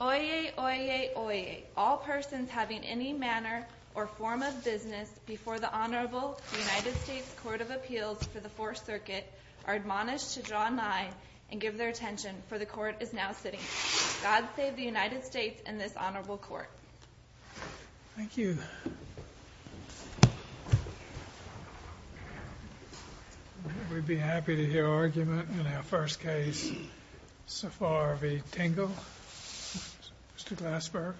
Oyez, oyez, oyez. All persons having any manner or form of business before the Honorable United States Court of Appeals for the Fourth Circuit are admonished to draw nigh and give their attention, for the Court is now sitting. God save the United States and this Honorable Court. Thank you. We'd be happy to hear argument in our first case. Safar v. Tingle. Mr. Glassberg.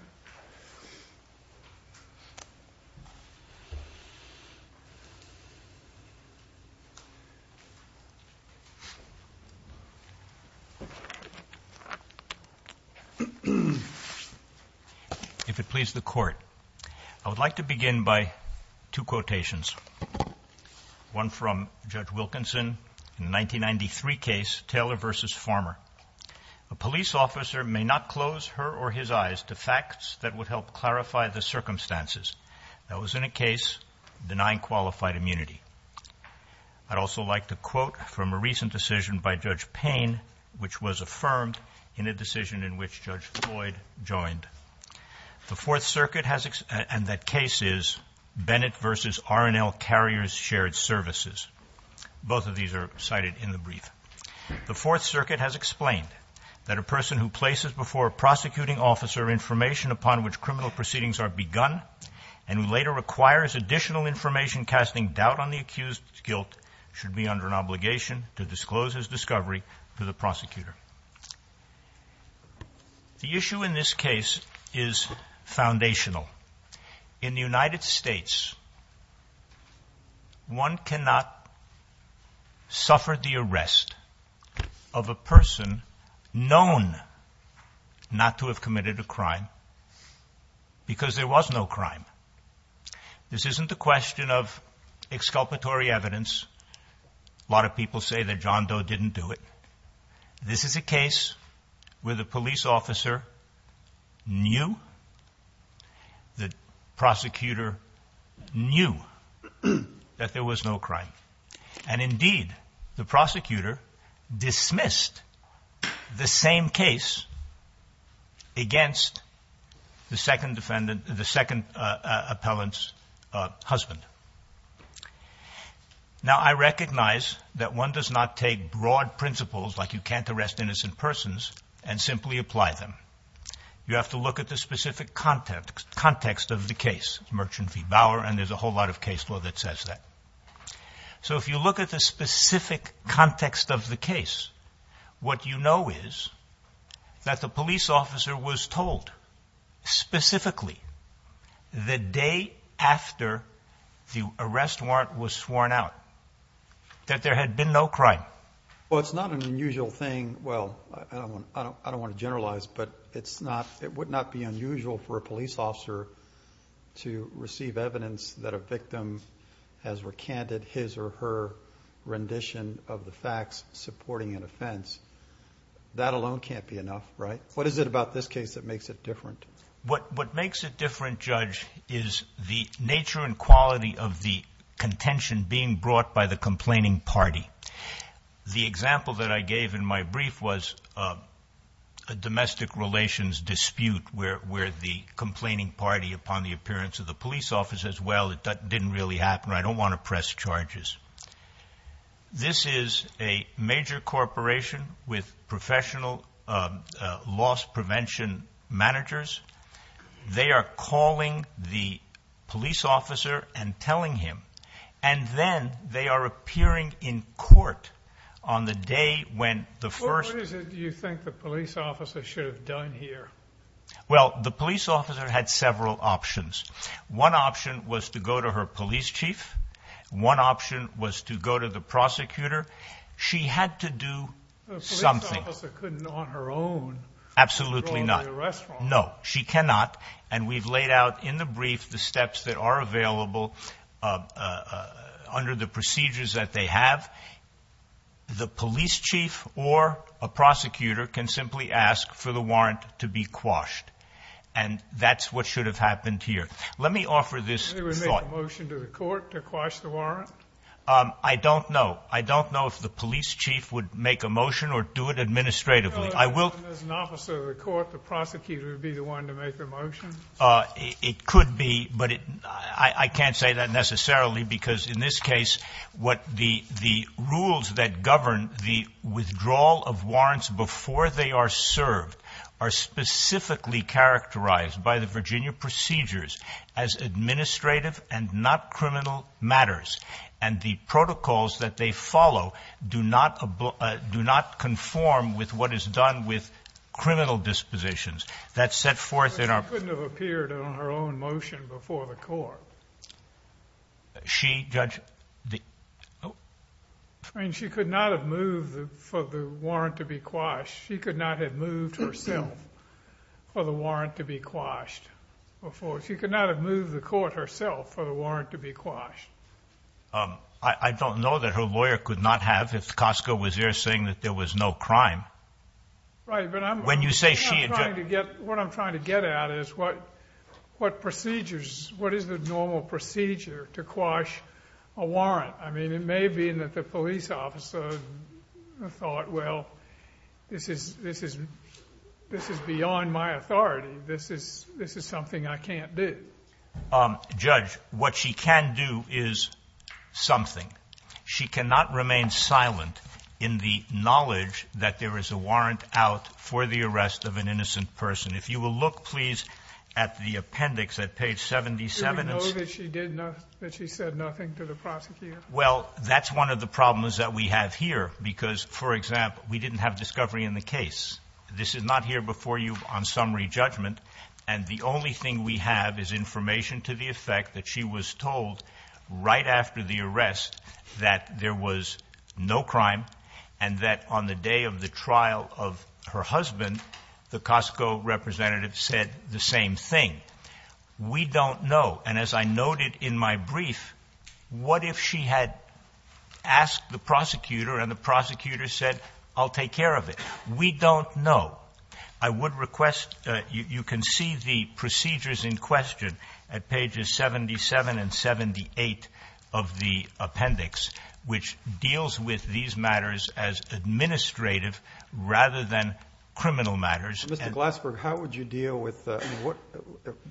If it please the Court, I would like to begin by two quotations, one from Judge Wilkinson in the 1993 case, Taylor v. Farmer. A police officer may not close her or his eyes to facts that would help clarify the circumstances. That was in a case denying qualified immunity. I'd also like to quote from a recent decision by Judge Payne, which was affirmed in a decision in which Judge Floyd joined. The Fourth Circuit has, and that case is, Bennett v. R&L Carriers Shared Services. Both of these are cited in the brief. The Fourth Circuit has explained that a person who places before a prosecuting officer information upon which criminal proceedings are begun, and later requires additional information casting doubt on the accused's guilt, should be under an obligation to disclose his discovery to the prosecutor. The issue in this case is foundational. In the United States, one cannot suffer the arrest of a person known not to have committed a crime because there was no crime. This isn't a question of exculpatory evidence. A lot of people say that John Doe didn't do it. This is a case where the police officer knew, the prosecutor knew, that there was no crime. And indeed, the prosecutor dismissed the same case against the second defendant, the second appellant's husband. Now, I recognize that one does not take broad principles like you can't arrest innocent persons and simply apply them. You have to look at the specific context of the case, Merchant v. Bauer, and there's a whole lot of case law that says that. So if you look at the specific context of the case, what you know is that the police officer was told, specifically, the day after the arrest warrant was sworn out, that there had been no crime. Well, it's not an unusual thing. Well, I don't want to generalize, but it would not be unusual for a police officer to receive evidence that a victim has recanted his or her rendition of the facts supporting an offense. That alone can't be enough, right? What is it about this case that makes it different? What makes it different, Judge, is the nature and quality of the contention being brought by the complaining party. The example that I gave in my brief was a domestic relations dispute where the complaining party, upon the appearance of the police officer, says, well, it didn't really happen. I don't want to press charges. This is a major corporation with professional loss prevention managers. They are calling the police officer and telling him, and then they are appearing in court on the day when the first- Well, what is it you think the police officer should have done here? Well, the police officer had several options. One option was to go to her police chief. One option was to go to the prosecutor. She had to do something. A police officer couldn't on her own- Absolutely not. No, she cannot. And we've laid out in the brief the steps that are available under the procedures that they have. The police chief or a prosecutor can simply ask for the warrant to be quashed. And that's what should have happened here. Let me offer this thought. They would make a motion to the court to quash the warrant? I don't know. I don't know if the police chief would make a motion or do it administratively. As an officer of the court, the prosecutor would be the one to make the motion? It could be, but I can't say that necessarily because in this case what the rules that govern the withdrawal of warrants before they are served are specifically characterized by the Virginia procedures as administrative and not criminal matters. And the protocols that they follow do not conform with what is done with criminal dispositions. But she couldn't have appeared on her own motion before the court. She, Judge? She could not have moved for the warrant to be quashed. She could not have moved herself for the warrant to be quashed. She could not have moved the court herself for the warrant to be quashed. I don't know that her lawyer could not have if Costco was there saying that there was no crime. What I'm trying to get at is what procedures, what is the normal procedure to quash a warrant? I mean, it may be that the police officer thought, well, this is beyond my authority. This is something I can't do. Judge, what she can do is something. She cannot remain silent in the knowledge that there is a warrant out for the arrest of an innocent person. If you will look, please, at the appendix at page 77. Do we know that she said nothing to the prosecutor? Well, that's one of the problems that we have here because, for example, we didn't have discovery in the case. This is not here before you on summary judgment. And the only thing we have is information to the effect that she was told right after the arrest that there was no crime and that on the day of the trial of her husband, the Costco representative said the same thing. We don't know. And as I noted in my brief, what if she had asked the prosecutor and the prosecutor said, I'll take care of it? We don't know. Well, I would request you can see the procedures in question at pages 77 and 78 of the appendix, which deals with these matters as administrative rather than criminal matters. Mr. Glassberg, how would you deal with what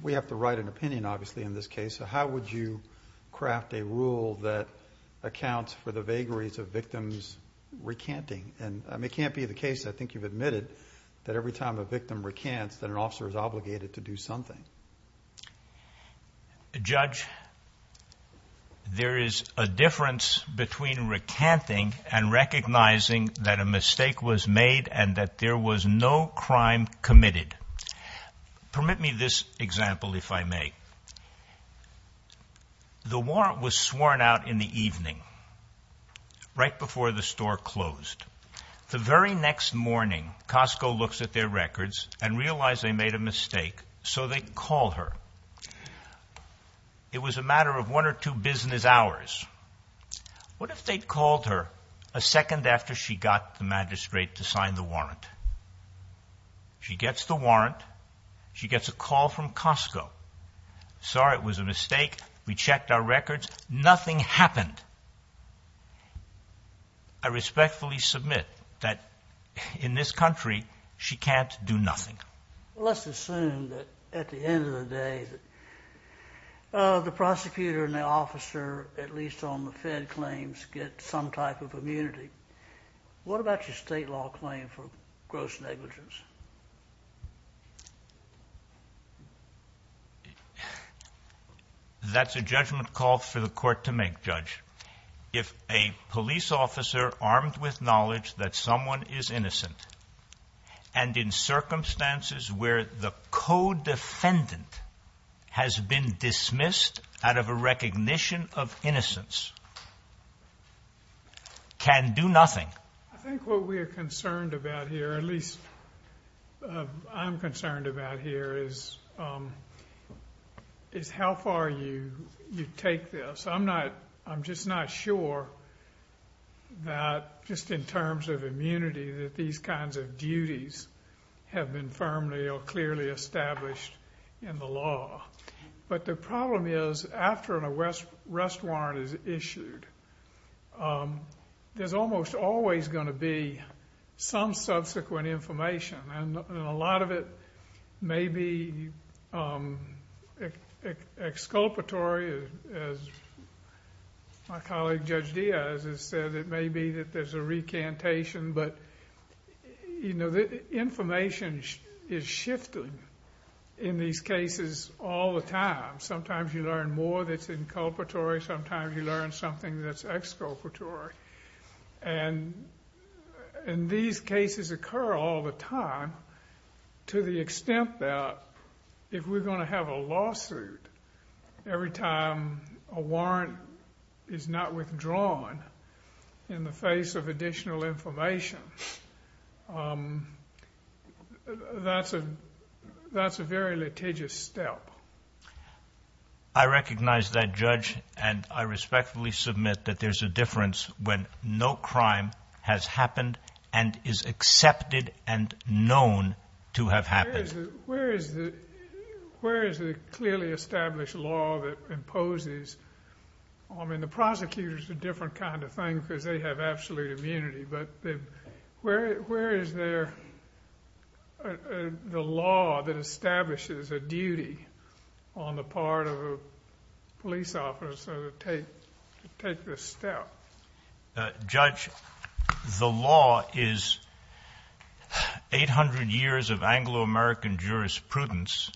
we have to write an opinion, obviously, in this case. How would you craft a rule that accounts for the vagaries of victims' recanting? And it can't be the case, I think you've admitted, that every time a victim recants that an officer is obligated to do something. Judge, there is a difference between recanting and recognizing that a mistake was made and that there was no crime committed. Permit me this example, if I may. The warrant was sworn out in the evening, right before the store closed. The very next morning, Costco looks at their records and realizes they made a mistake, so they call her. It was a matter of one or two business hours. What if they called her a second after she got the magistrate to sign the warrant? She gets the warrant. She gets a call from Costco. Sorry, it was a mistake. We checked our records. Nothing happened. I respectfully submit that in this country, she can't do nothing. Let's assume that at the end of the day, the prosecutor and the officer, at least on the Fed claims, get some type of immunity. What about your state law claim for gross negligence? That's a judgment call for the court to make, Judge. If a police officer armed with knowledge that someone is innocent and in circumstances where the co-defendant has been dismissed out of a recognition of innocence can do nothing. I think what we are concerned about here, at least I'm concerned about here, is how far you take this. I'm just not sure that just in terms of immunity that these kinds of duties have been firmly or clearly established in the law. The problem is after a rest warrant is issued, there's almost always going to be some subsequent information. A lot of it may be exculpatory, as my colleague Judge Diaz has said. It may be that there's a recantation, but information is shifted in these cases all the time. Sometimes you learn more that's inculpatory. Sometimes you learn something that's exculpatory. These cases occur all the time to the extent that if we're going to have a lawsuit every time a warrant is not withdrawn in the face of additional information, that's a very litigious step. I recognize that, Judge, and I respectfully submit that there's a difference when no crime has happened and is accepted and known to have happened. Where is the clearly established law that imposes? I mean, the prosecutors are a different kind of thing because they have absolute immunity, but where is the law that establishes a duty on the part of a police officer to take this step? Judge, the law is 800 years of Anglo-American jurisprudence,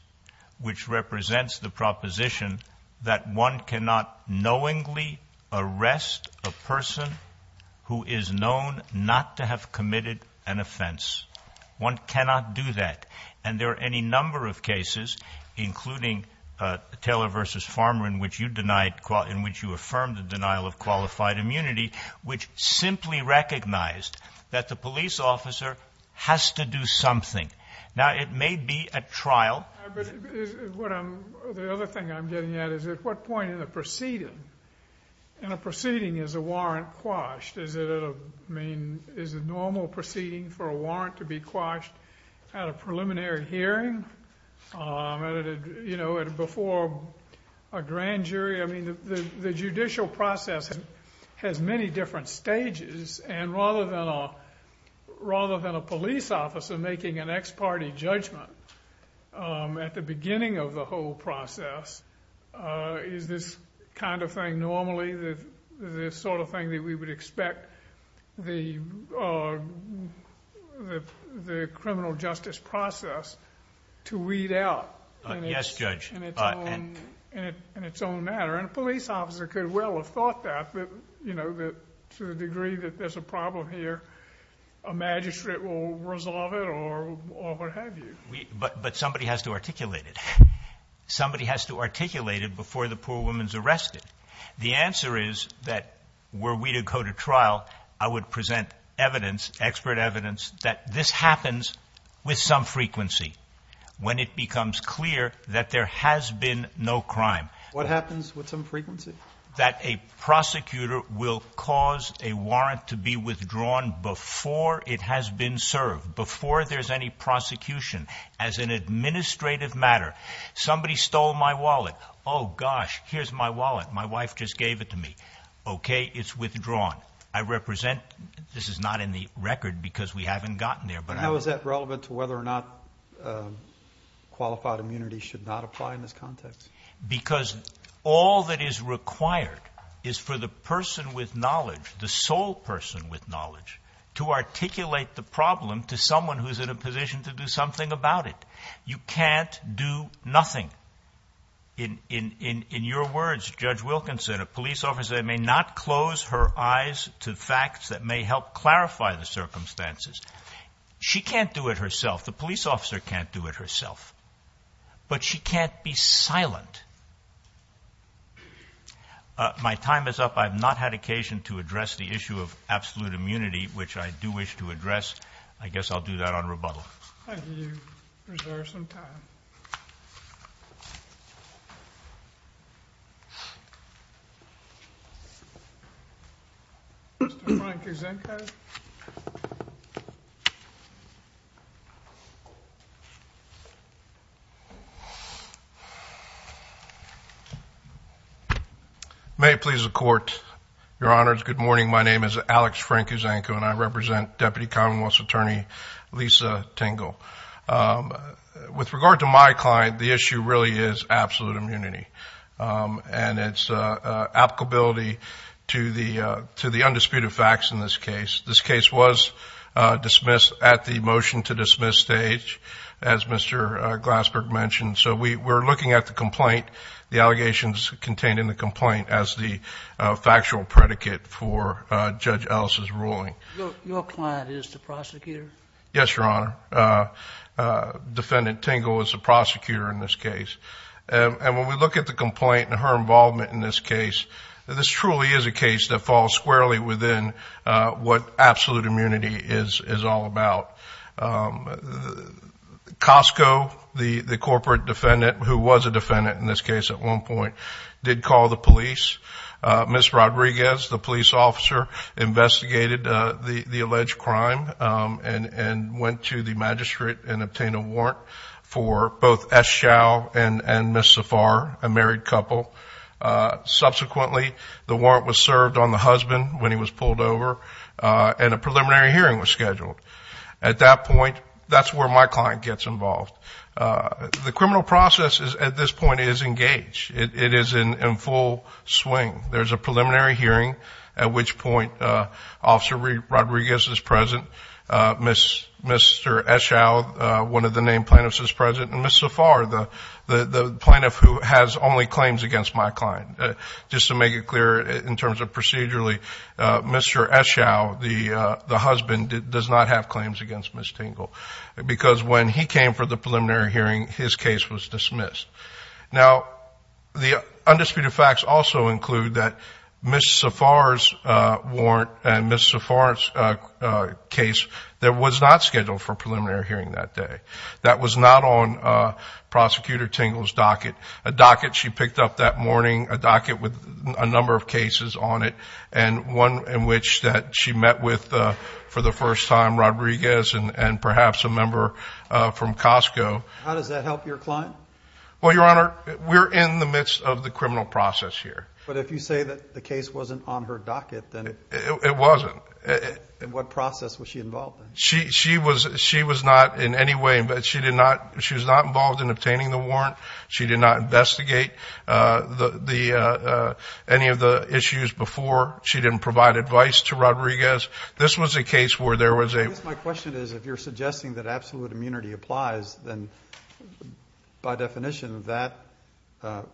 which represents the proposition that one cannot knowingly arrest a person who is known not to have committed an offense. One cannot do that, and there are any number of cases, including Taylor v. Farmer, in which you affirmed the denial of qualified immunity, which simply recognized that the police officer has to do something. Now, it may be a trial. The other thing I'm getting at is at what point in a proceeding is a warrant quashed? Is it a normal proceeding for a warrant to be quashed at a preliminary hearing, before a grand jury? I mean, the judicial process has many different stages, and rather than a police officer making an ex parte judgment at the beginning of the whole process, is this kind of thing normally the sort of thing that we would expect the criminal justice process to weed out? Yes, Judge. In its own manner, and a police officer could well have thought that, to the degree that there's a problem here, a magistrate will resolve it or what have you. But somebody has to articulate it. Somebody has to articulate it before the poor woman's arrested. The answer is that were we to go to trial, I would present evidence, expert evidence, that this happens with some frequency when it becomes clear that there has been no crime. What happens with some frequency? That a prosecutor will cause a warrant to be withdrawn before it has been served, before there's any prosecution, as an administrative matter. Somebody stole my wallet. Oh, gosh, here's my wallet. My wife just gave it to me. Okay, it's withdrawn. I represent, this is not in the record because we haven't gotten there. Now, is that relevant to whether or not qualified immunity should not apply in this context? Because all that is required is for the person with knowledge, the sole person with knowledge, to articulate the problem to someone who's in a position to do something about it. You can't do nothing. In your words, Judge Wilkins said, a police officer may not close her eyes to facts that may help clarify the circumstances. She can't do it herself. The police officer can't do it herself. But she can't be silent. My time is up. I have not had occasion to address the issue of absolute immunity, which I do wish to address. I guess I'll do that on rebuttal. Thank you. Reserve some time. Mr. Frank Uzanko? May it please the Court. Your Honors, good morning. My name is Alex Frank Uzanko, and I represent Deputy Commonwealth's Attorney Lisa Tingle. With regard to my client, the issue really is absolute immunity and its applicability to the undisputed facts in this case. This case was dismissed at the motion-to-dismiss stage, as Mr. Glassberg mentioned. So we're looking at the complaint, the allegations contained in the complaint, as the factual predicate for Judge Ellis's ruling. Your client is the prosecutor? Yes, Your Honor. Defendant Tingle is the prosecutor in this case. And when we look at the complaint and her involvement in this case, this truly is a case that falls squarely within what absolute immunity is all about. Costco, the corporate defendant who was a defendant in this case at one point, did call the police. Ms. Rodriguez, the police officer, investigated the alleged crime and went to the magistrate and obtained a warrant for both S. Chau and Ms. Safar, a married couple. Subsequently, the warrant was served on the husband when he was pulled over, and a preliminary hearing was scheduled. At that point, that's where my client gets involved. The criminal process at this point is engaged. It is in full swing. There's a preliminary hearing, at which point Officer Rodriguez is present, Mr. S. Chau, one of the named plaintiffs, is present, and Ms. Safar, the plaintiff who has only claims against my client. Just to make it clear in terms of procedurally, Mr. S. Chau, the husband, does not have claims against Ms. Tingle, because when he came for the preliminary hearing, his case was dismissed. Now, the undisputed facts also include that Ms. Safar's warrant and Ms. Safar's case, that was not scheduled for a preliminary hearing that day. That was not on Prosecutor Tingle's docket, a docket she picked up that morning, a docket with a number of cases on it, and one in which she met with, for the first time, Rodriguez and perhaps a member from Costco. How does that help your client? Well, Your Honor, we're in the midst of the criminal process here. But if you say that the case wasn't on her docket, then it... It wasn't. What process was she involved in? She was not in any way, she was not involved in obtaining the warrant. She did not investigate any of the issues before. She didn't provide advice to Rodriguez. This was a case where there was a... By definition, that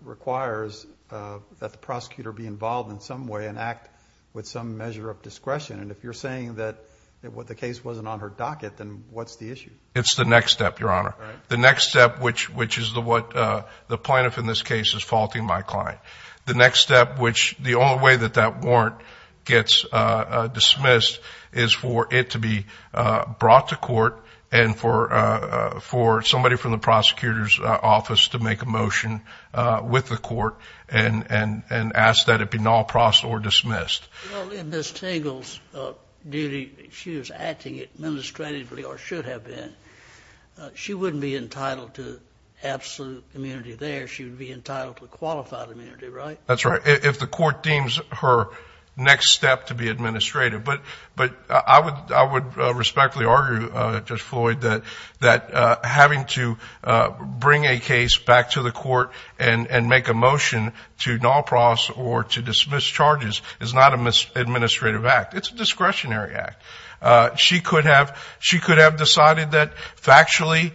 requires that the prosecutor be involved in some way and act with some measure of discretion. And if you're saying that the case wasn't on her docket, then what's the issue? It's the next step, Your Honor. The next step, which is what the plaintiff in this case is faulting my client. The next step, which the only way that that warrant gets dismissed is for it to be brought to court and for somebody from the prosecutor's office to make a motion with the court and ask that it be non-procedural or dismissed. Well, in Ms. Tingle's duty, she was acting administratively or should have been. She wouldn't be entitled to absolute immunity there. She would be entitled to qualified immunity, right? That's right, if the court deems her next step to be administrative. But I would respectfully argue, Judge Floyd, that having to bring a case back to the court and make a motion to non-process or to dismiss charges is not an administrative act. It's a discretionary act. She could have decided that factually,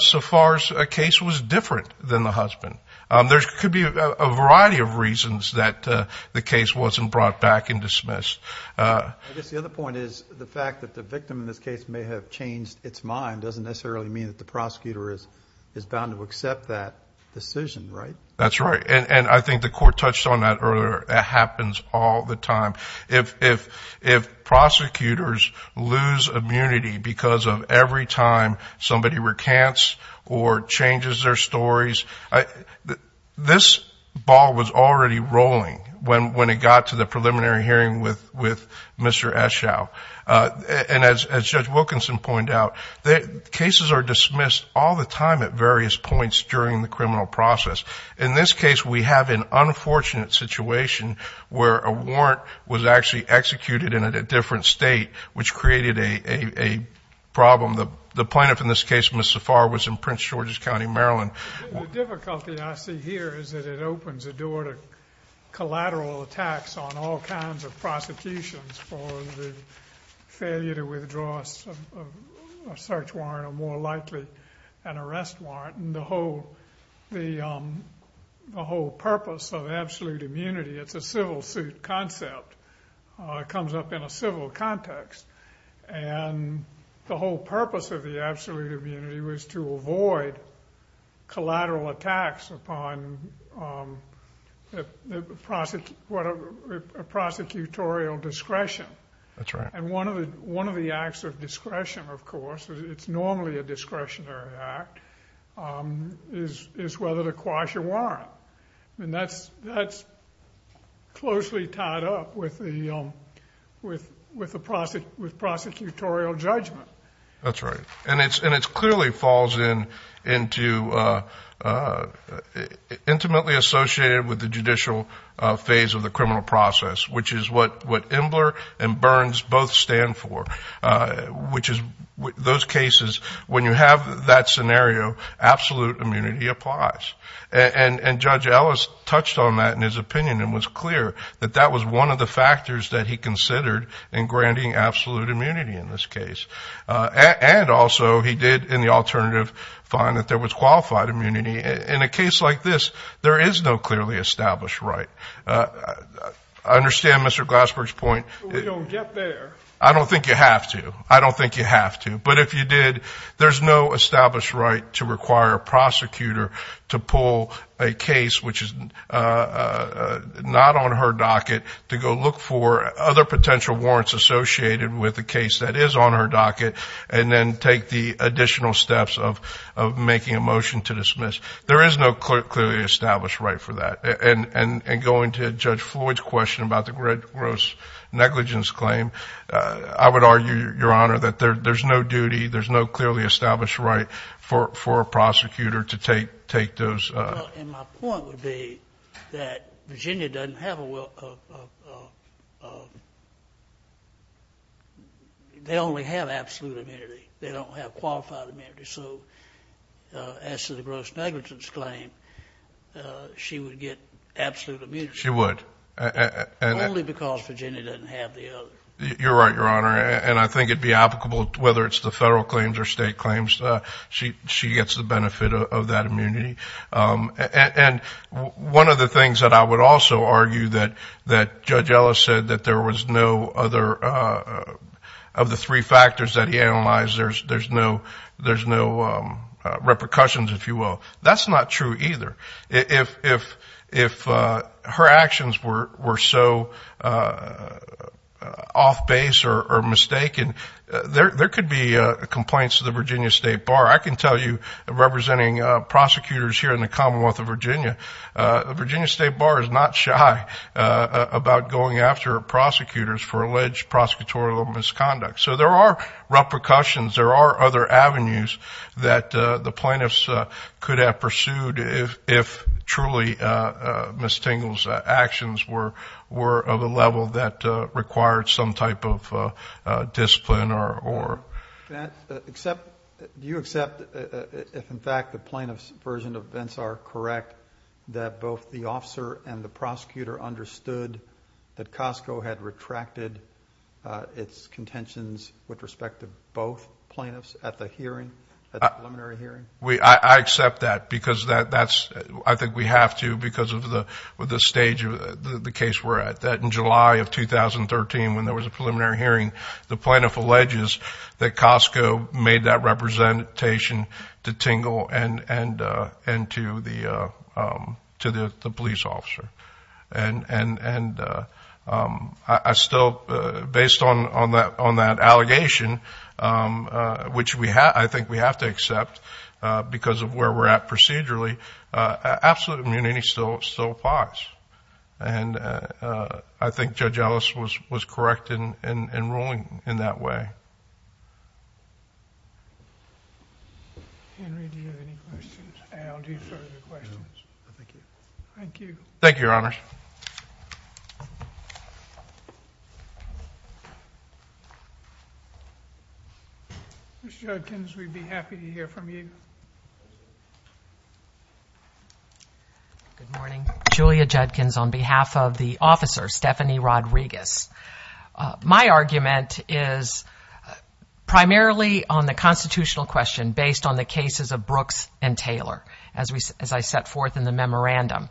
so far as a case was different than the husband. There could be a variety of reasons that the case wasn't brought back and dismissed. I guess the other point is the fact that the victim in this case may have changed its mind doesn't necessarily mean that the prosecutor is bound to accept that decision, right? That's right, and I think the court touched on that earlier. It happens all the time. If prosecutors lose immunity because of every time somebody recants or changes their stories, this ball was already rolling when it got to the preliminary hearing with Mr. Eschow. And as Judge Wilkinson pointed out, cases are dismissed all the time at various points during the criminal process. In this case, we have an unfortunate situation where a warrant was actually executed in a different state, which created a problem. The plaintiff in this case, Ms. Zafar, was in Prince George's County, Maryland. The difficulty I see here is that it opens a door to collateral attacks on all kinds of prosecutions for the failure to withdraw a search warrant or, more likely, an arrest warrant. The whole purpose of absolute immunity, it's a civil suit concept. It comes up in a civil context. And the whole purpose of the absolute immunity was to avoid collateral attacks upon a prosecutorial discretion. That's right. And one of the acts of discretion, of course, it's normally a discretionary act, is whether to quash a warrant. And that's closely tied up with prosecutorial judgment. That's right. And it clearly falls into intimately associated with the judicial phase of the criminal process, which is what Imbler and Burns both stand for, which is those cases, when you have that scenario, absolute immunity applies. And Judge Ellis touched on that in his opinion and was clear that that was one of the factors that he considered in granting absolute immunity in this case. And also he did, in the alternative, find that there was qualified immunity. In a case like this, there is no clearly established right. I understand Mr. Glassberg's point. We don't get there. I don't think you have to. I don't think you have to. But if you did, there's no established right to require a prosecutor to pull a case which is not on her docket to go look for other potential warrants associated with a case that is on her docket and then take the additional steps of making a motion to dismiss. There is no clearly established right for that. And going to Judge Floyd's question about the gross negligence claim, I would argue, Your Honor, that there's no duty, there's no clearly established right for a prosecutor to take those. Well, and my point would be that Virginia doesn't have a will of – they only have absolute immunity. They don't have qualified immunity. So as to the gross negligence claim, she would get absolute immunity. She would. Only because Virginia doesn't have the other. You're right, Your Honor. And I think it would be applicable whether it's the federal claims or state claims. She gets the benefit of that immunity. And one of the things that I would also argue that Judge Ellis said that there was no other – no repercussions, if you will. That's not true either. If her actions were so off base or mistaken, there could be complaints to the Virginia State Bar. I can tell you, representing prosecutors here in the Commonwealth of Virginia, the Virginia State Bar is not shy about going after prosecutors for alleged prosecutorial misconduct. So there are repercussions. There are other avenues that the plaintiffs could have pursued if truly Ms. Tingle's actions were of a level that required some type of discipline or – Do you accept if, in fact, the plaintiff's version of events are correct, that both the officer and the prosecutor understood that Costco had retracted its contentions with respect to both plaintiffs at the hearing, at the preliminary hearing? I accept that because that's – I think we have to because of the stage of the case we're at. That in July of 2013, when there was a preliminary hearing, the plaintiff alleges that Costco made that representation to Tingle and to the police officer. And I still – based on that allegation, which I think we have to accept because of where we're at procedurally, absolute immunity still applies. And I think Judge Ellis was correct in ruling in that way. Henry, do you have any questions? I'll do further questions. Thank you. Thank you, Your Honors. Mr. Judkins, we'd be happy to hear from you. Good morning. Julia Judkins on behalf of the officer, Stephanie Rodriguez. My argument is primarily on the constitutional question based on the cases of Brooks and Taylor, as I set forth in the memorandum.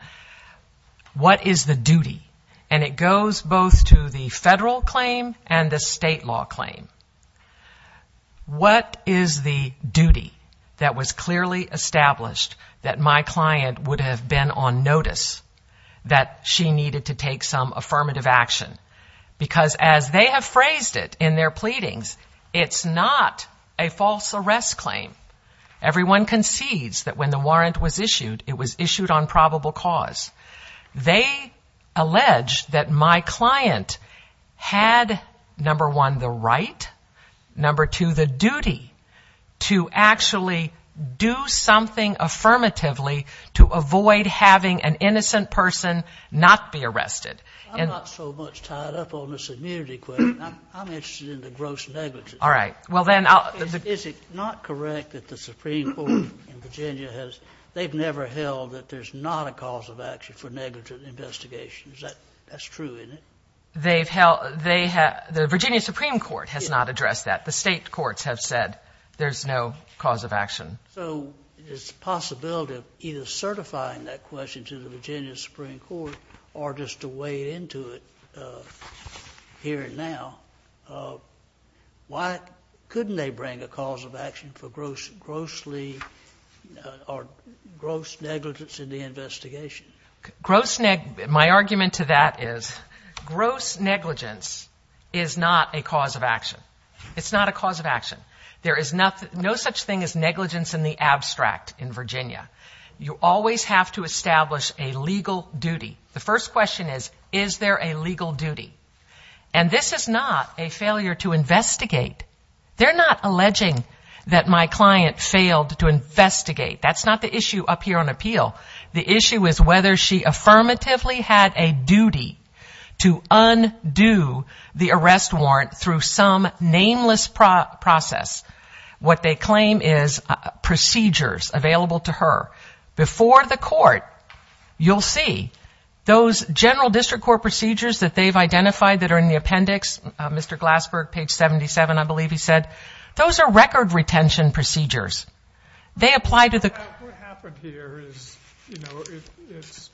What is the duty? And it goes both to the federal claim and the state law claim. What is the duty that was clearly established that my client would have been on notice that she needed to take some affirmative action? Because as they have phrased it in their pleadings, it's not a false arrest claim. Everyone concedes that when the warrant was issued, it was issued on probable cause. They allege that my client had, number one, the right, number two, the duty, to actually do something affirmatively to avoid having an innocent person not be arrested. I'm not so much tied up on this immunity question. I'm interested in the gross negligence. All right. Is it not correct that the Supreme Court in Virginia has, they've never held that there's not a cause of action for negligent investigations. That's true, isn't it? The Virginia Supreme Court has not addressed that. The state courts have said there's no cause of action. So it's a possibility of either certifying that question to the Virginia Supreme Court or just to weigh into it here and now. Why couldn't they bring a cause of action for gross negligence in the investigation? My argument to that is gross negligence is not a cause of action. It's not a cause of action. There is no such thing as negligence in the abstract in Virginia. You always have to establish a legal duty. The first question is, is there a legal duty? And this is not a failure to investigate. They're not alleging that my client failed to investigate. That's not the issue up here on appeal. The issue is whether she affirmatively had a duty to undo the arrest warrant through some nameless process, what they claim is procedures available to her. Before the court, you'll see those general district court procedures that they've identified that are in the appendix, Mr. Glassberg, page 77, I believe he said, those are record retention procedures. They apply to the court. What happened here is, you know, it's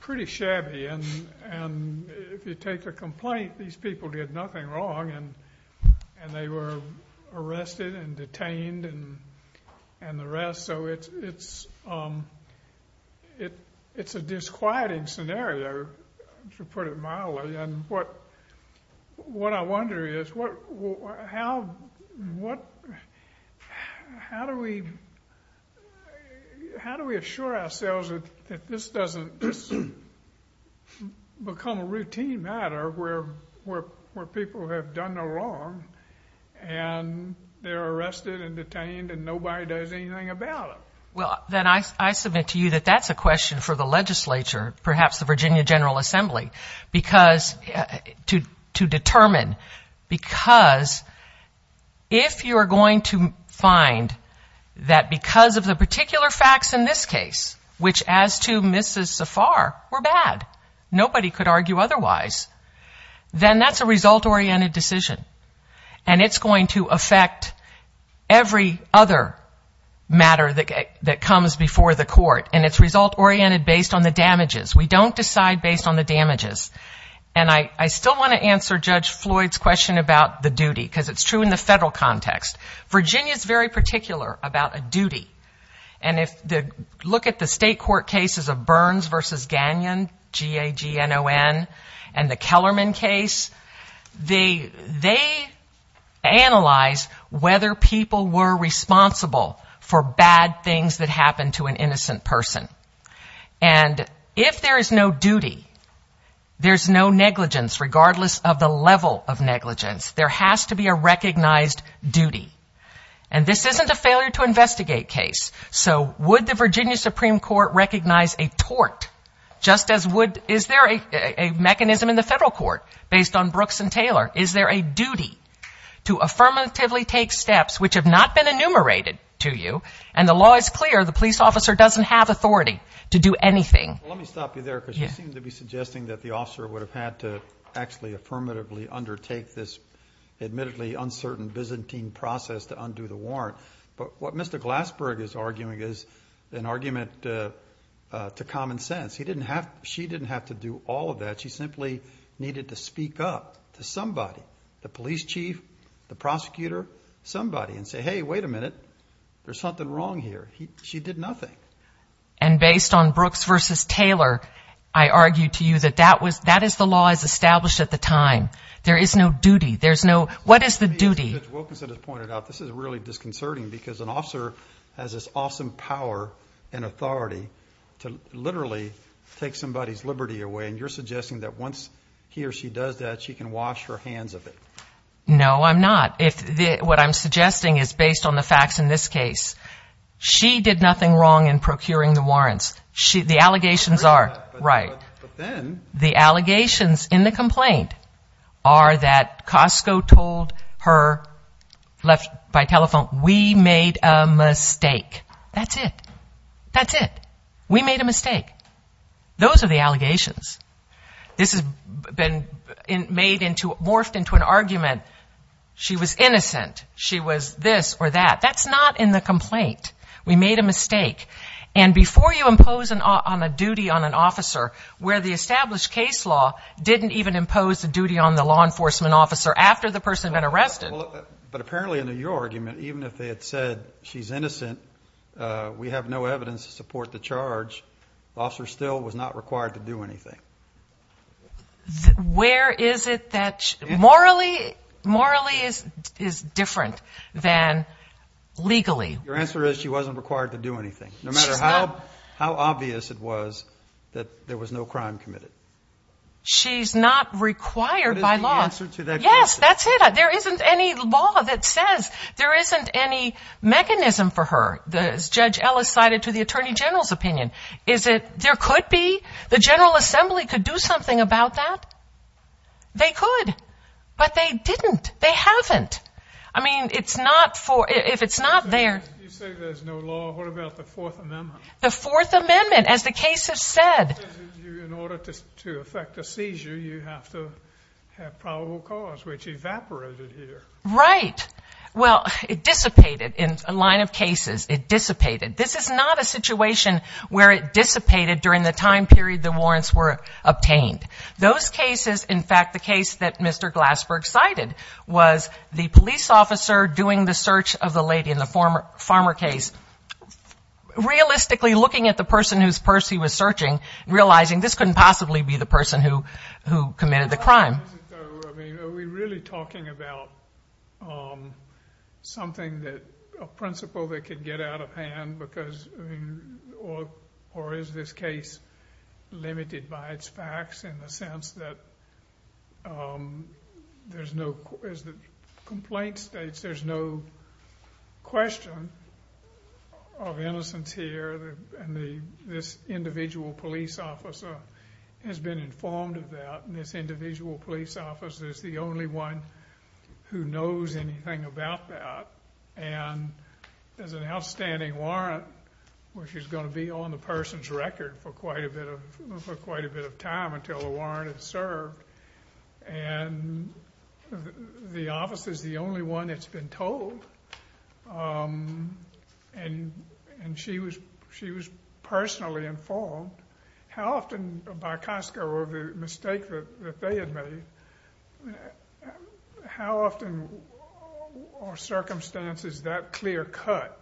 pretty shabby. And if you take a complaint, these people did nothing wrong, and they were arrested and detained and the rest. So it's a disquieting scenario, to put it mildly. And what I wonder is, how do we assure ourselves that this doesn't become a routine matter where people have done no wrong and they're arrested and detained and nobody does anything about it? Well, then I submit to you that that's a question for the legislature, perhaps the Virginia General Assembly, to determine. Because if you're going to find that because of the particular facts in this case, which as to Mrs. Safar were bad, nobody could argue otherwise, then that's a result-oriented decision. And it's going to affect every other matter that comes before the court, and it's result-oriented based on the damages. We don't decide based on the damages. And I still want to answer Judge Floyd's question about the duty, because it's true in the federal context. Virginia is very particular about a duty. And if you look at the state court cases of Burns v. Gagnon, G-A-G-N-O-N, and the Kellerman case, they analyze whether people were responsible for bad things that happened to an innocent person. And if there is no duty, there's no negligence, regardless of the level of negligence. There has to be a recognized duty. And this isn't a failure-to-investigate case. So would the Virginia Supreme Court recognize a tort, just as would, is there a mechanism in the federal court based on Brooks and Taylor? Is there a duty to affirmatively take steps which have not been enumerated to you, and the law is clear, the police officer doesn't have authority to do anything? Well, let me stop you there, because you seem to be suggesting that the officer would have had to actually affirmatively undertake this admittedly uncertain Byzantine process to undo the warrant. But what Mr. Glassberg is arguing is an argument to common sense. She didn't have to do all of that. She simply needed to speak up to somebody, the police chief, the prosecutor, somebody, and say, hey, wait a minute, there's something wrong here. She did nothing. And based on Brooks versus Taylor, I argue to you that that is the law as established at the time. There is no duty. There's no, what is the duty? As Judge Wilkinson has pointed out, this is really disconcerting, because an officer has this awesome power and authority to literally take somebody's liberty away, and you're suggesting that once he or she does that, she can wash her hands of it. No, I'm not. What I'm suggesting is based on the facts in this case. She did nothing wrong in procuring the warrants. The allegations are, right, the allegations in the complaint are that Costco told her by telephone, we made a mistake. That's it. That's it. We made a mistake. Those are the allegations. This has been made into, morphed into an argument. She was innocent. She was this or that. That's not in the complaint. We made a mistake. And before you impose on a duty on an officer, where the established case law didn't even impose a duty on the law enforcement officer after the person had been arrested. But apparently under your argument, even if they had said she's innocent, we have no evidence to support the charge, the officer still was not required to do anything. Where is it that morally is different than legally? Your answer is she wasn't required to do anything, no matter how obvious it was that there was no crime committed. She's not required by law. What is the answer to that question? Yes, that's it. There isn't any law that says there isn't any mechanism for her, as Judge Ellis cited to the Attorney General's opinion. There could be. The General Assembly could do something about that. They could. But they didn't. They haven't. I mean, if it's not there. You say there's no law. What about the Fourth Amendment? The Fourth Amendment, as the case has said. In order to effect a seizure, you have to have probable cause, which evaporated here. Right. Well, it dissipated in a line of cases. It dissipated. This is not a situation where it dissipated during the time period the warrants were obtained. Those cases, in fact, the case that Mr. Glassberg cited, was the police officer doing the search of the lady in the farmer case, realistically looking at the person whose purse he was searching, realizing this couldn't possibly be the person who committed the crime. Are we really talking about something that, a principle that could get out of hand, or is this case limited by its facts in the sense that there's no, as the complaint states, there's no question of innocence here, and this individual police officer has been informed of that, and this individual police officer is the only one who knows anything about that, and there's an outstanding warrant, which is going to be on the person's record for quite a bit of time until the warrant is served, and the officer is the only one that's been told, and she was personally informed. How often, by Costco or the mistake that they had made, how often are circumstances that clear-cut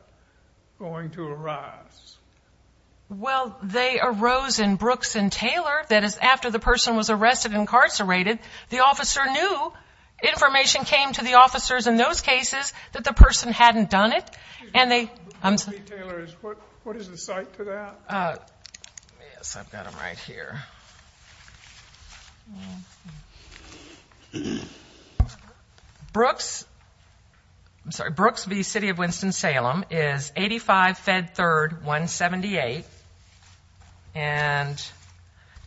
going to arise? Well, they arose in Brooks and Taylor. That is, after the person was arrested and incarcerated, the officer knew information came to the officers in those cases that the person hadn't done it. Brooks v. Taylor, what is the site for that? Yes, I've got them right here. Brooks v. City of Winston-Salem is 85 Fed 3rd 178, and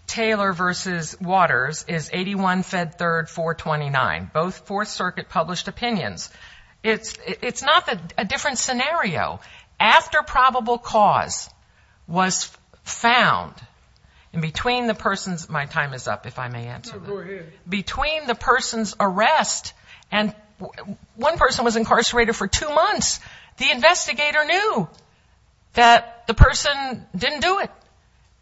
Taylor v. Waters is 81 Fed 3rd 429, both Fourth Circuit published opinions. It's not a different scenario. After probable cause was found, in between the person's, my time is up, if I may answer that. No, go ahead. Between the person's arrest, and one person was incarcerated for two months, the investigator knew that the person didn't do it,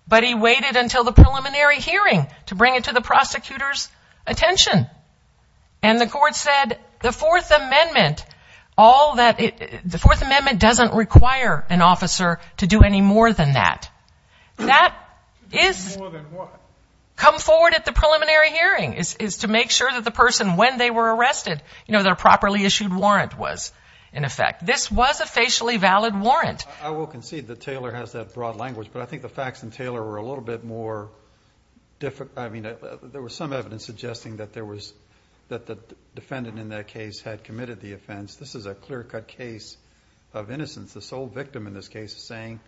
but he waited until the preliminary hearing to bring it to the prosecutor's attention, and the court said the Fourth Amendment, all that, the Fourth Amendment doesn't require an officer to do any more than that. That is, come forward at the preliminary hearing, is to make sure that the person, when they were arrested, you know, their properly issued warrant was in effect. This was a facially valid warrant. I will concede that Taylor has that broad language, but I think the facts in Taylor were a little bit more, I mean, there was some evidence suggesting that there was, that the defendant in that case had committed the offense. This is a clear-cut case of innocence. The sole victim in this case is saying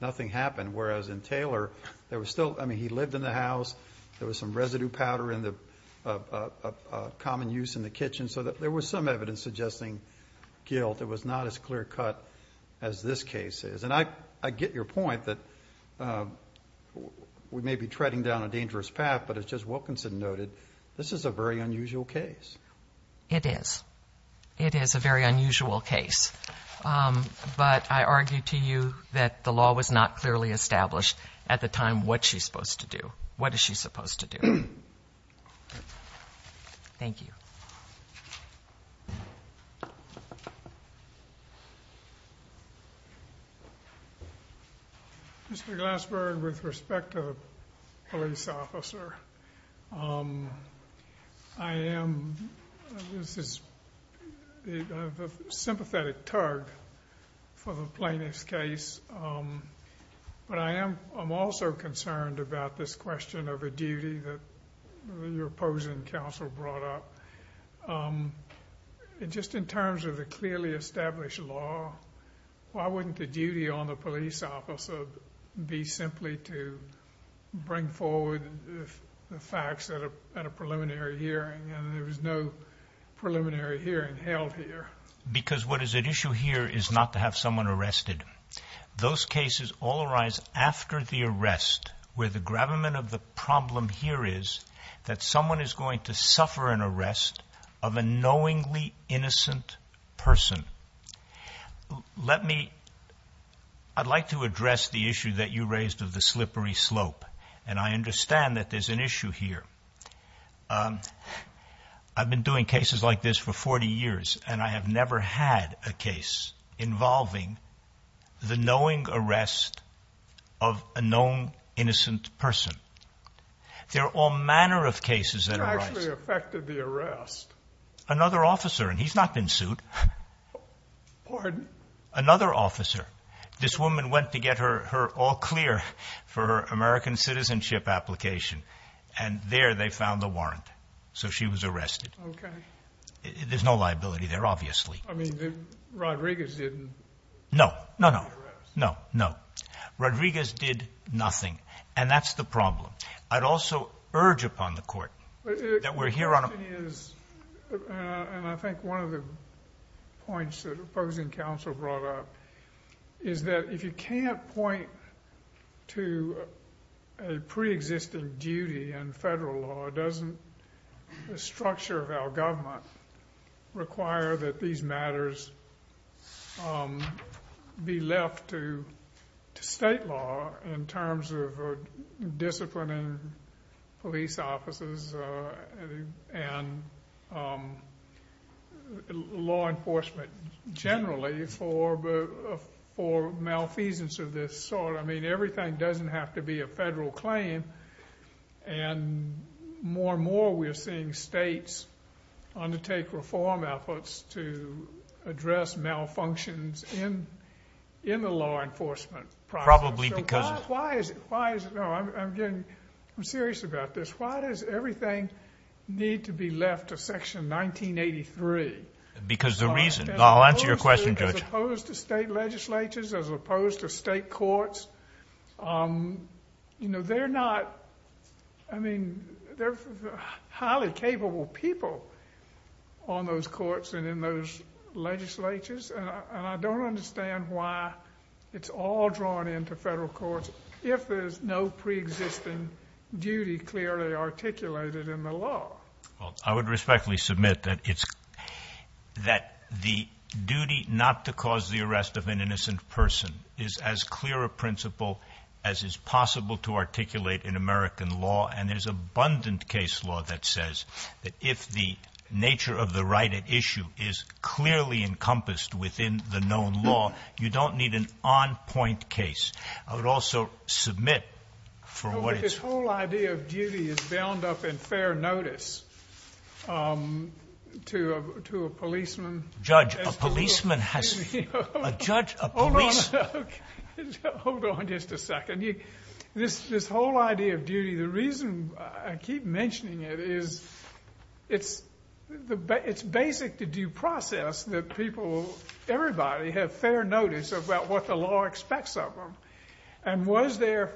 nothing happened, whereas in Taylor, there was still, I mean, he lived in the house, there was some residue powder in the common use in the kitchen, so there was some evidence suggesting guilt. It was not as clear-cut as this case is, and I get your point that we may be treading down a dangerous path, but as Judge Wilkinson noted, this is a very unusual case. It is. It is a very unusual case, but I argue to you that the law was not clearly established at the time what she's supposed to do, what is she supposed to do. Thank you. Mr. Glassberg, with respect to the police officer, I am, this is a sympathetic tug for the plaintiff's case, but I am also concerned about this question of a duty that your opposing counsel brought up. Just in terms of the clearly established law, why wouldn't the duty on the police officer be simply to bring forward the facts at a preliminary hearing, and there was no preliminary hearing held here? Because what is at issue here is not to have someone arrested. Those cases all arise after the arrest, where the gravamen of the problem here is that someone is going to suffer an arrest of a knowingly innocent person. Let me, I'd like to address the issue that you raised of the slippery slope, and I understand that there's an issue here. I've been doing cases like this for 40 years, and I have never had a case involving the knowing arrest of a known innocent person. There are all manner of cases that arise. You actually affected the arrest. Another officer, and he's not been sued. Pardon? Another officer. This woman went to get her all clear for her American citizenship application, and there they found the warrant, so she was arrested. Okay. There's no liability there, obviously. I mean, Rodriguez didn't. No, no, no, no, no. And that's the problem. I'd also urge upon the Court that we're here on a... And I think one of the points that opposing counsel brought up is that if you can't point to a preexisting duty in federal law, doesn't the structure of our government require that these matters be left to disciplined police officers and law enforcement generally for malfeasance of this sort? I mean, everything doesn't have to be a federal claim, and more and more we're seeing states undertake reform efforts to address malfunctions in the law enforcement process. Probably because of... Why is it... No, I'm getting... I'm serious about this. Why does everything need to be left to Section 1983? Because the reason. I'll answer your question, Judge. As opposed to state legislatures, as opposed to state courts, you know, they're not... I mean, they're highly capable people on those courts and in those legislatures, and I don't understand why it's all drawn into federal courts if there's no preexisting duty clearly articulated in the law. Well, I would respectfully submit that it's... That the duty not to cause the arrest of an innocent person is as clear a principle as is possible to articulate in American law, and there's abundant case law that says that if the nature of the right at least is clearly encompassed within the known law, you don't need an on-point case. I would also submit for what it's... No, but this whole idea of duty is bound up in fair notice to a policeman. Judge, a policeman has... You know... A judge, a policeman... Hold on. Okay. Hold on just a second. This whole idea of duty, the reason I keep mentioning it is it's basic to the duty process that people, everybody, have fair notice about what the law expects of them, and was there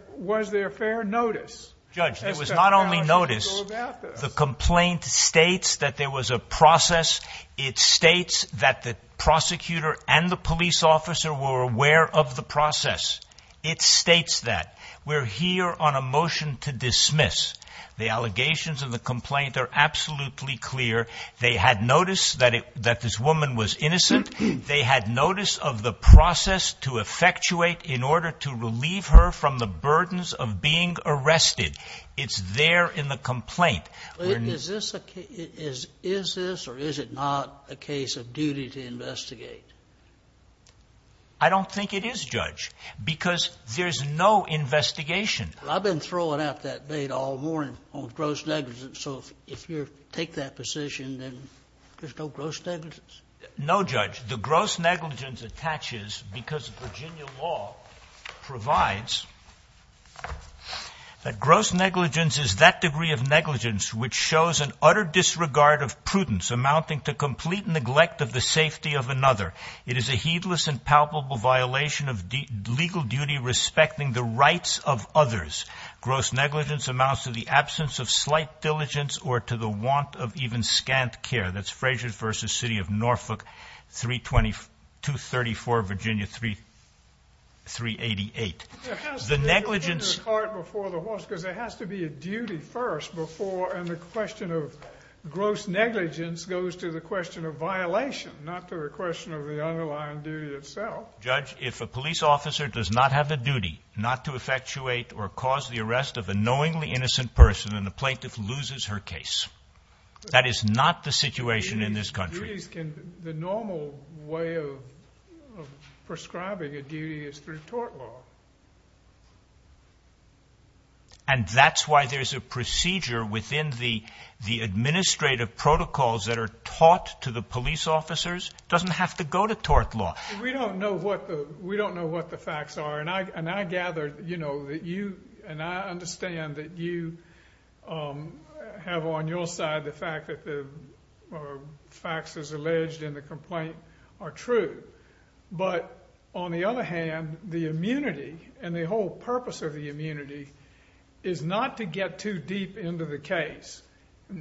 fair notice... Judge, there was not only notice... About this. The complaint states that there was a process. It states that the prosecutor and the police officer were aware of the process. It states that. We're here on a motion to dismiss. The allegations of the complaint are absolutely clear. They had notice that this woman was innocent. They had notice of the process to effectuate in order to relieve her from the burdens of being arrested. It's there in the complaint. Is this or is it not a case of duty to investigate? I don't think it is, Judge, because there's no investigation. I've been throwing out that data all morning on gross negligence. So if you take that position, then there's no gross negligence? No, Judge. The gross negligence attaches because Virginia law provides that gross negligence is that degree of negligence which shows an utter disregard of prudence amounting to complete neglect of the safety of another. It is a heedless and palpable violation of legal duty respecting the rights of others. Gross negligence amounts to the absence of slight diligence or to the want of even scant care. That's Frazier v. City of Norfolk, 234 Virginia 388. There has to be a duty first before and the question of gross negligence goes to the question of violation, not to the question of the underlying duty itself. Judge, if a police officer does not have the duty not to effectuate or cause the arrest of a knowingly innocent person and the plaintiff loses her case, that is not the situation in this country. The normal way of prescribing a duty is through tort law. And that's why there's a procedure within the administrative protocols that are taught to the police officers. It doesn't have to go to tort law. We don't know what the facts are. And I gather that you and I understand that you have on your side the fact that the facts as alleged in the complaint are true. But on the other hand, the immunity and the whole purpose of the immunity is not to get too deep into the case.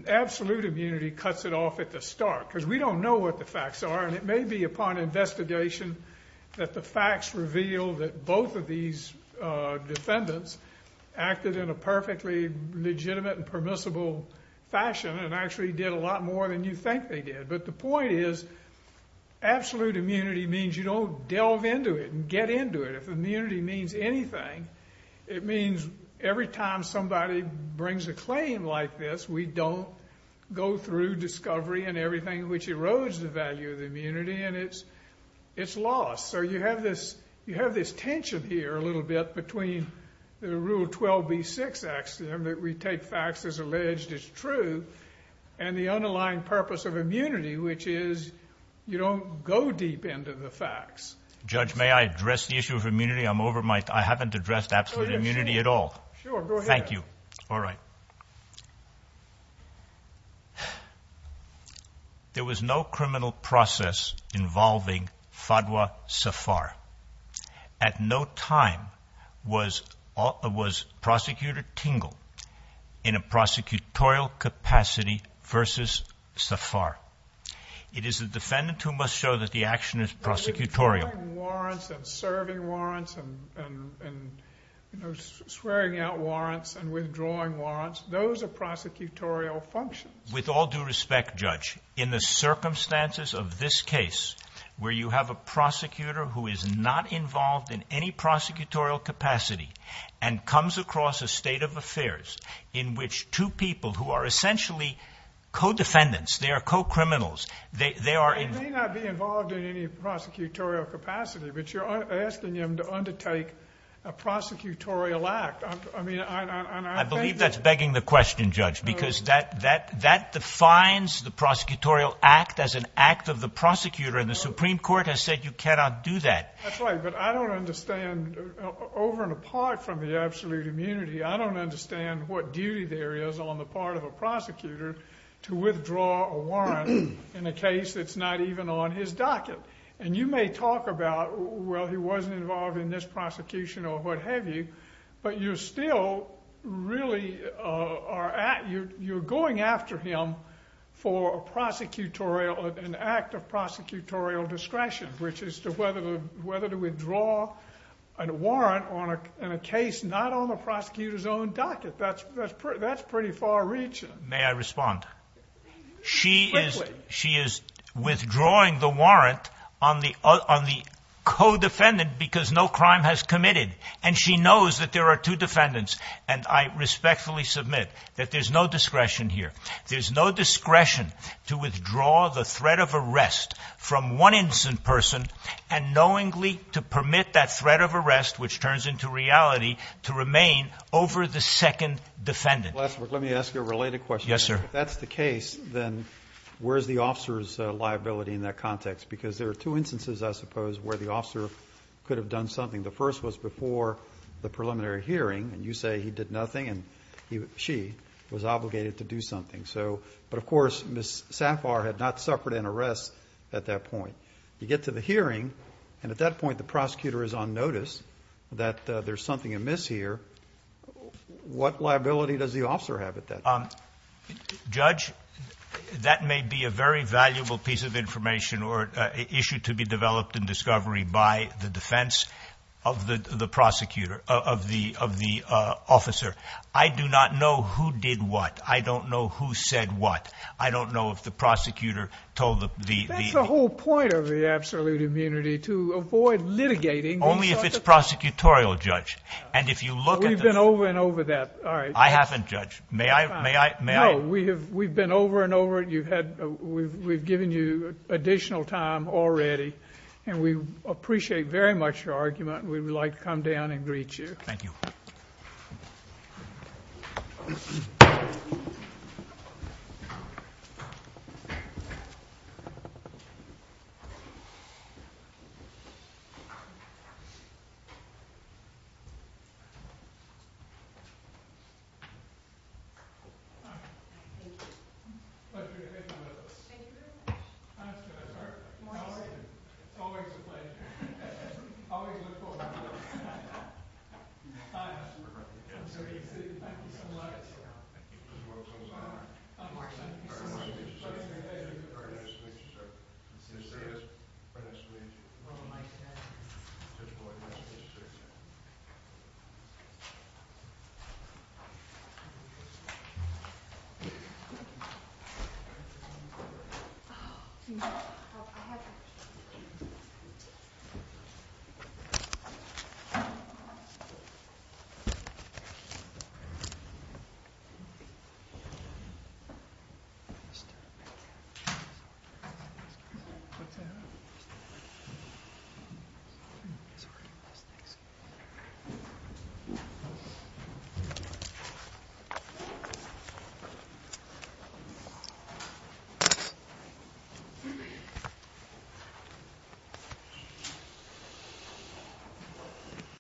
Absolute immunity cuts it off at the start because we don't know what the facts are and it may be upon investigation that the facts reveal that both of these defendants acted in a perfectly legitimate and permissible fashion and actually did a lot more than you think they did. But the point is absolute immunity means you don't delve into it and get into it. If immunity means anything, it means every time somebody brings a claim like this, we don't go through discovery and everything which erodes the value of immunity and it's lost. So you have this tension here a little bit between the Rule 12b-6 axiom that we take facts as alleged as true and the underlying purpose of immunity, which is you don't go deep into the facts. Judge, may I address the issue of immunity? I'm over my time. I haven't addressed absolute immunity at all. Sure, go ahead. Thank you. All right. There was no criminal process involving Fadwa Safar. At no time was Prosecutor Tingle in a prosecutorial capacity versus Safar. It is the defendant who must show that the action is prosecutorial. Swearing warrants and serving warrants and swearing out warrants and withdrawing warrants, those are prosecutorial functions. With all due respect, Judge, in the circumstances of this case, where you have a prosecutor who is not involved in any prosecutorial capacity and comes across a state of affairs in which two people who are essentially co-defendants, they are co-criminals, they are in- but you're asking him to undertake a prosecutorial act. I believe that's begging the question, Judge, because that defines the prosecutorial act as an act of the prosecutor, and the Supreme Court has said you cannot do that. That's right, but I don't understand, over and apart from the absolute immunity, I don't understand what duty there is on the part of a prosecutor to withdraw a warrant in a case that's not even on his docket. And you may talk about, well, he wasn't involved in this prosecution or what have you, but you're still really- you're going after him for a prosecutorial- an act of prosecutorial discretion, which is whether to withdraw a warrant in a case not on the prosecutor's own docket. That's pretty far-reaching. May I respond? She is withdrawing the warrant on the co-defendant because no crime has committed, and she knows that there are two defendants, and I respectfully submit that there's no discretion here. There's no discretion to withdraw the threat of arrest from one innocent person and knowingly to permit that threat of arrest, which turns into reality, to remain over the second defendant. Let me ask you a related question. Yes, sir. If that's the case, then where is the officer's liability in that context? Because there are two instances, I suppose, where the officer could have done something. The first was before the preliminary hearing, and you say he did nothing and she was obligated to do something. But, of course, Ms. Safar had not suffered an arrest at that point. You get to the hearing, and at that point the prosecutor is on notice that there's something amiss here. What liability does the officer have at that point? Judge, that may be a very valuable piece of information or issue to be developed in discovery by the defense of the prosecutor, of the officer. I do not know who did what. I don't know who said what. I don't know if the prosecutor told the— That's the whole point of the absolute immunity, to avoid litigating. Only if it's prosecutorial, Judge. And if you look at the— We've been over and over that. All right. I haven't, Judge. May I— No, we've been over and over it. We've given you additional time already, and we appreciate very much your argument. We would like to come down and greet you. Thank you. Thank you very much. Thank you very much. Thank you very much. Morning, sir. Always a pleasure. Always a pleasure. Always look forward to the— I'm sorry. Thank you so much. Thank you. Thank you.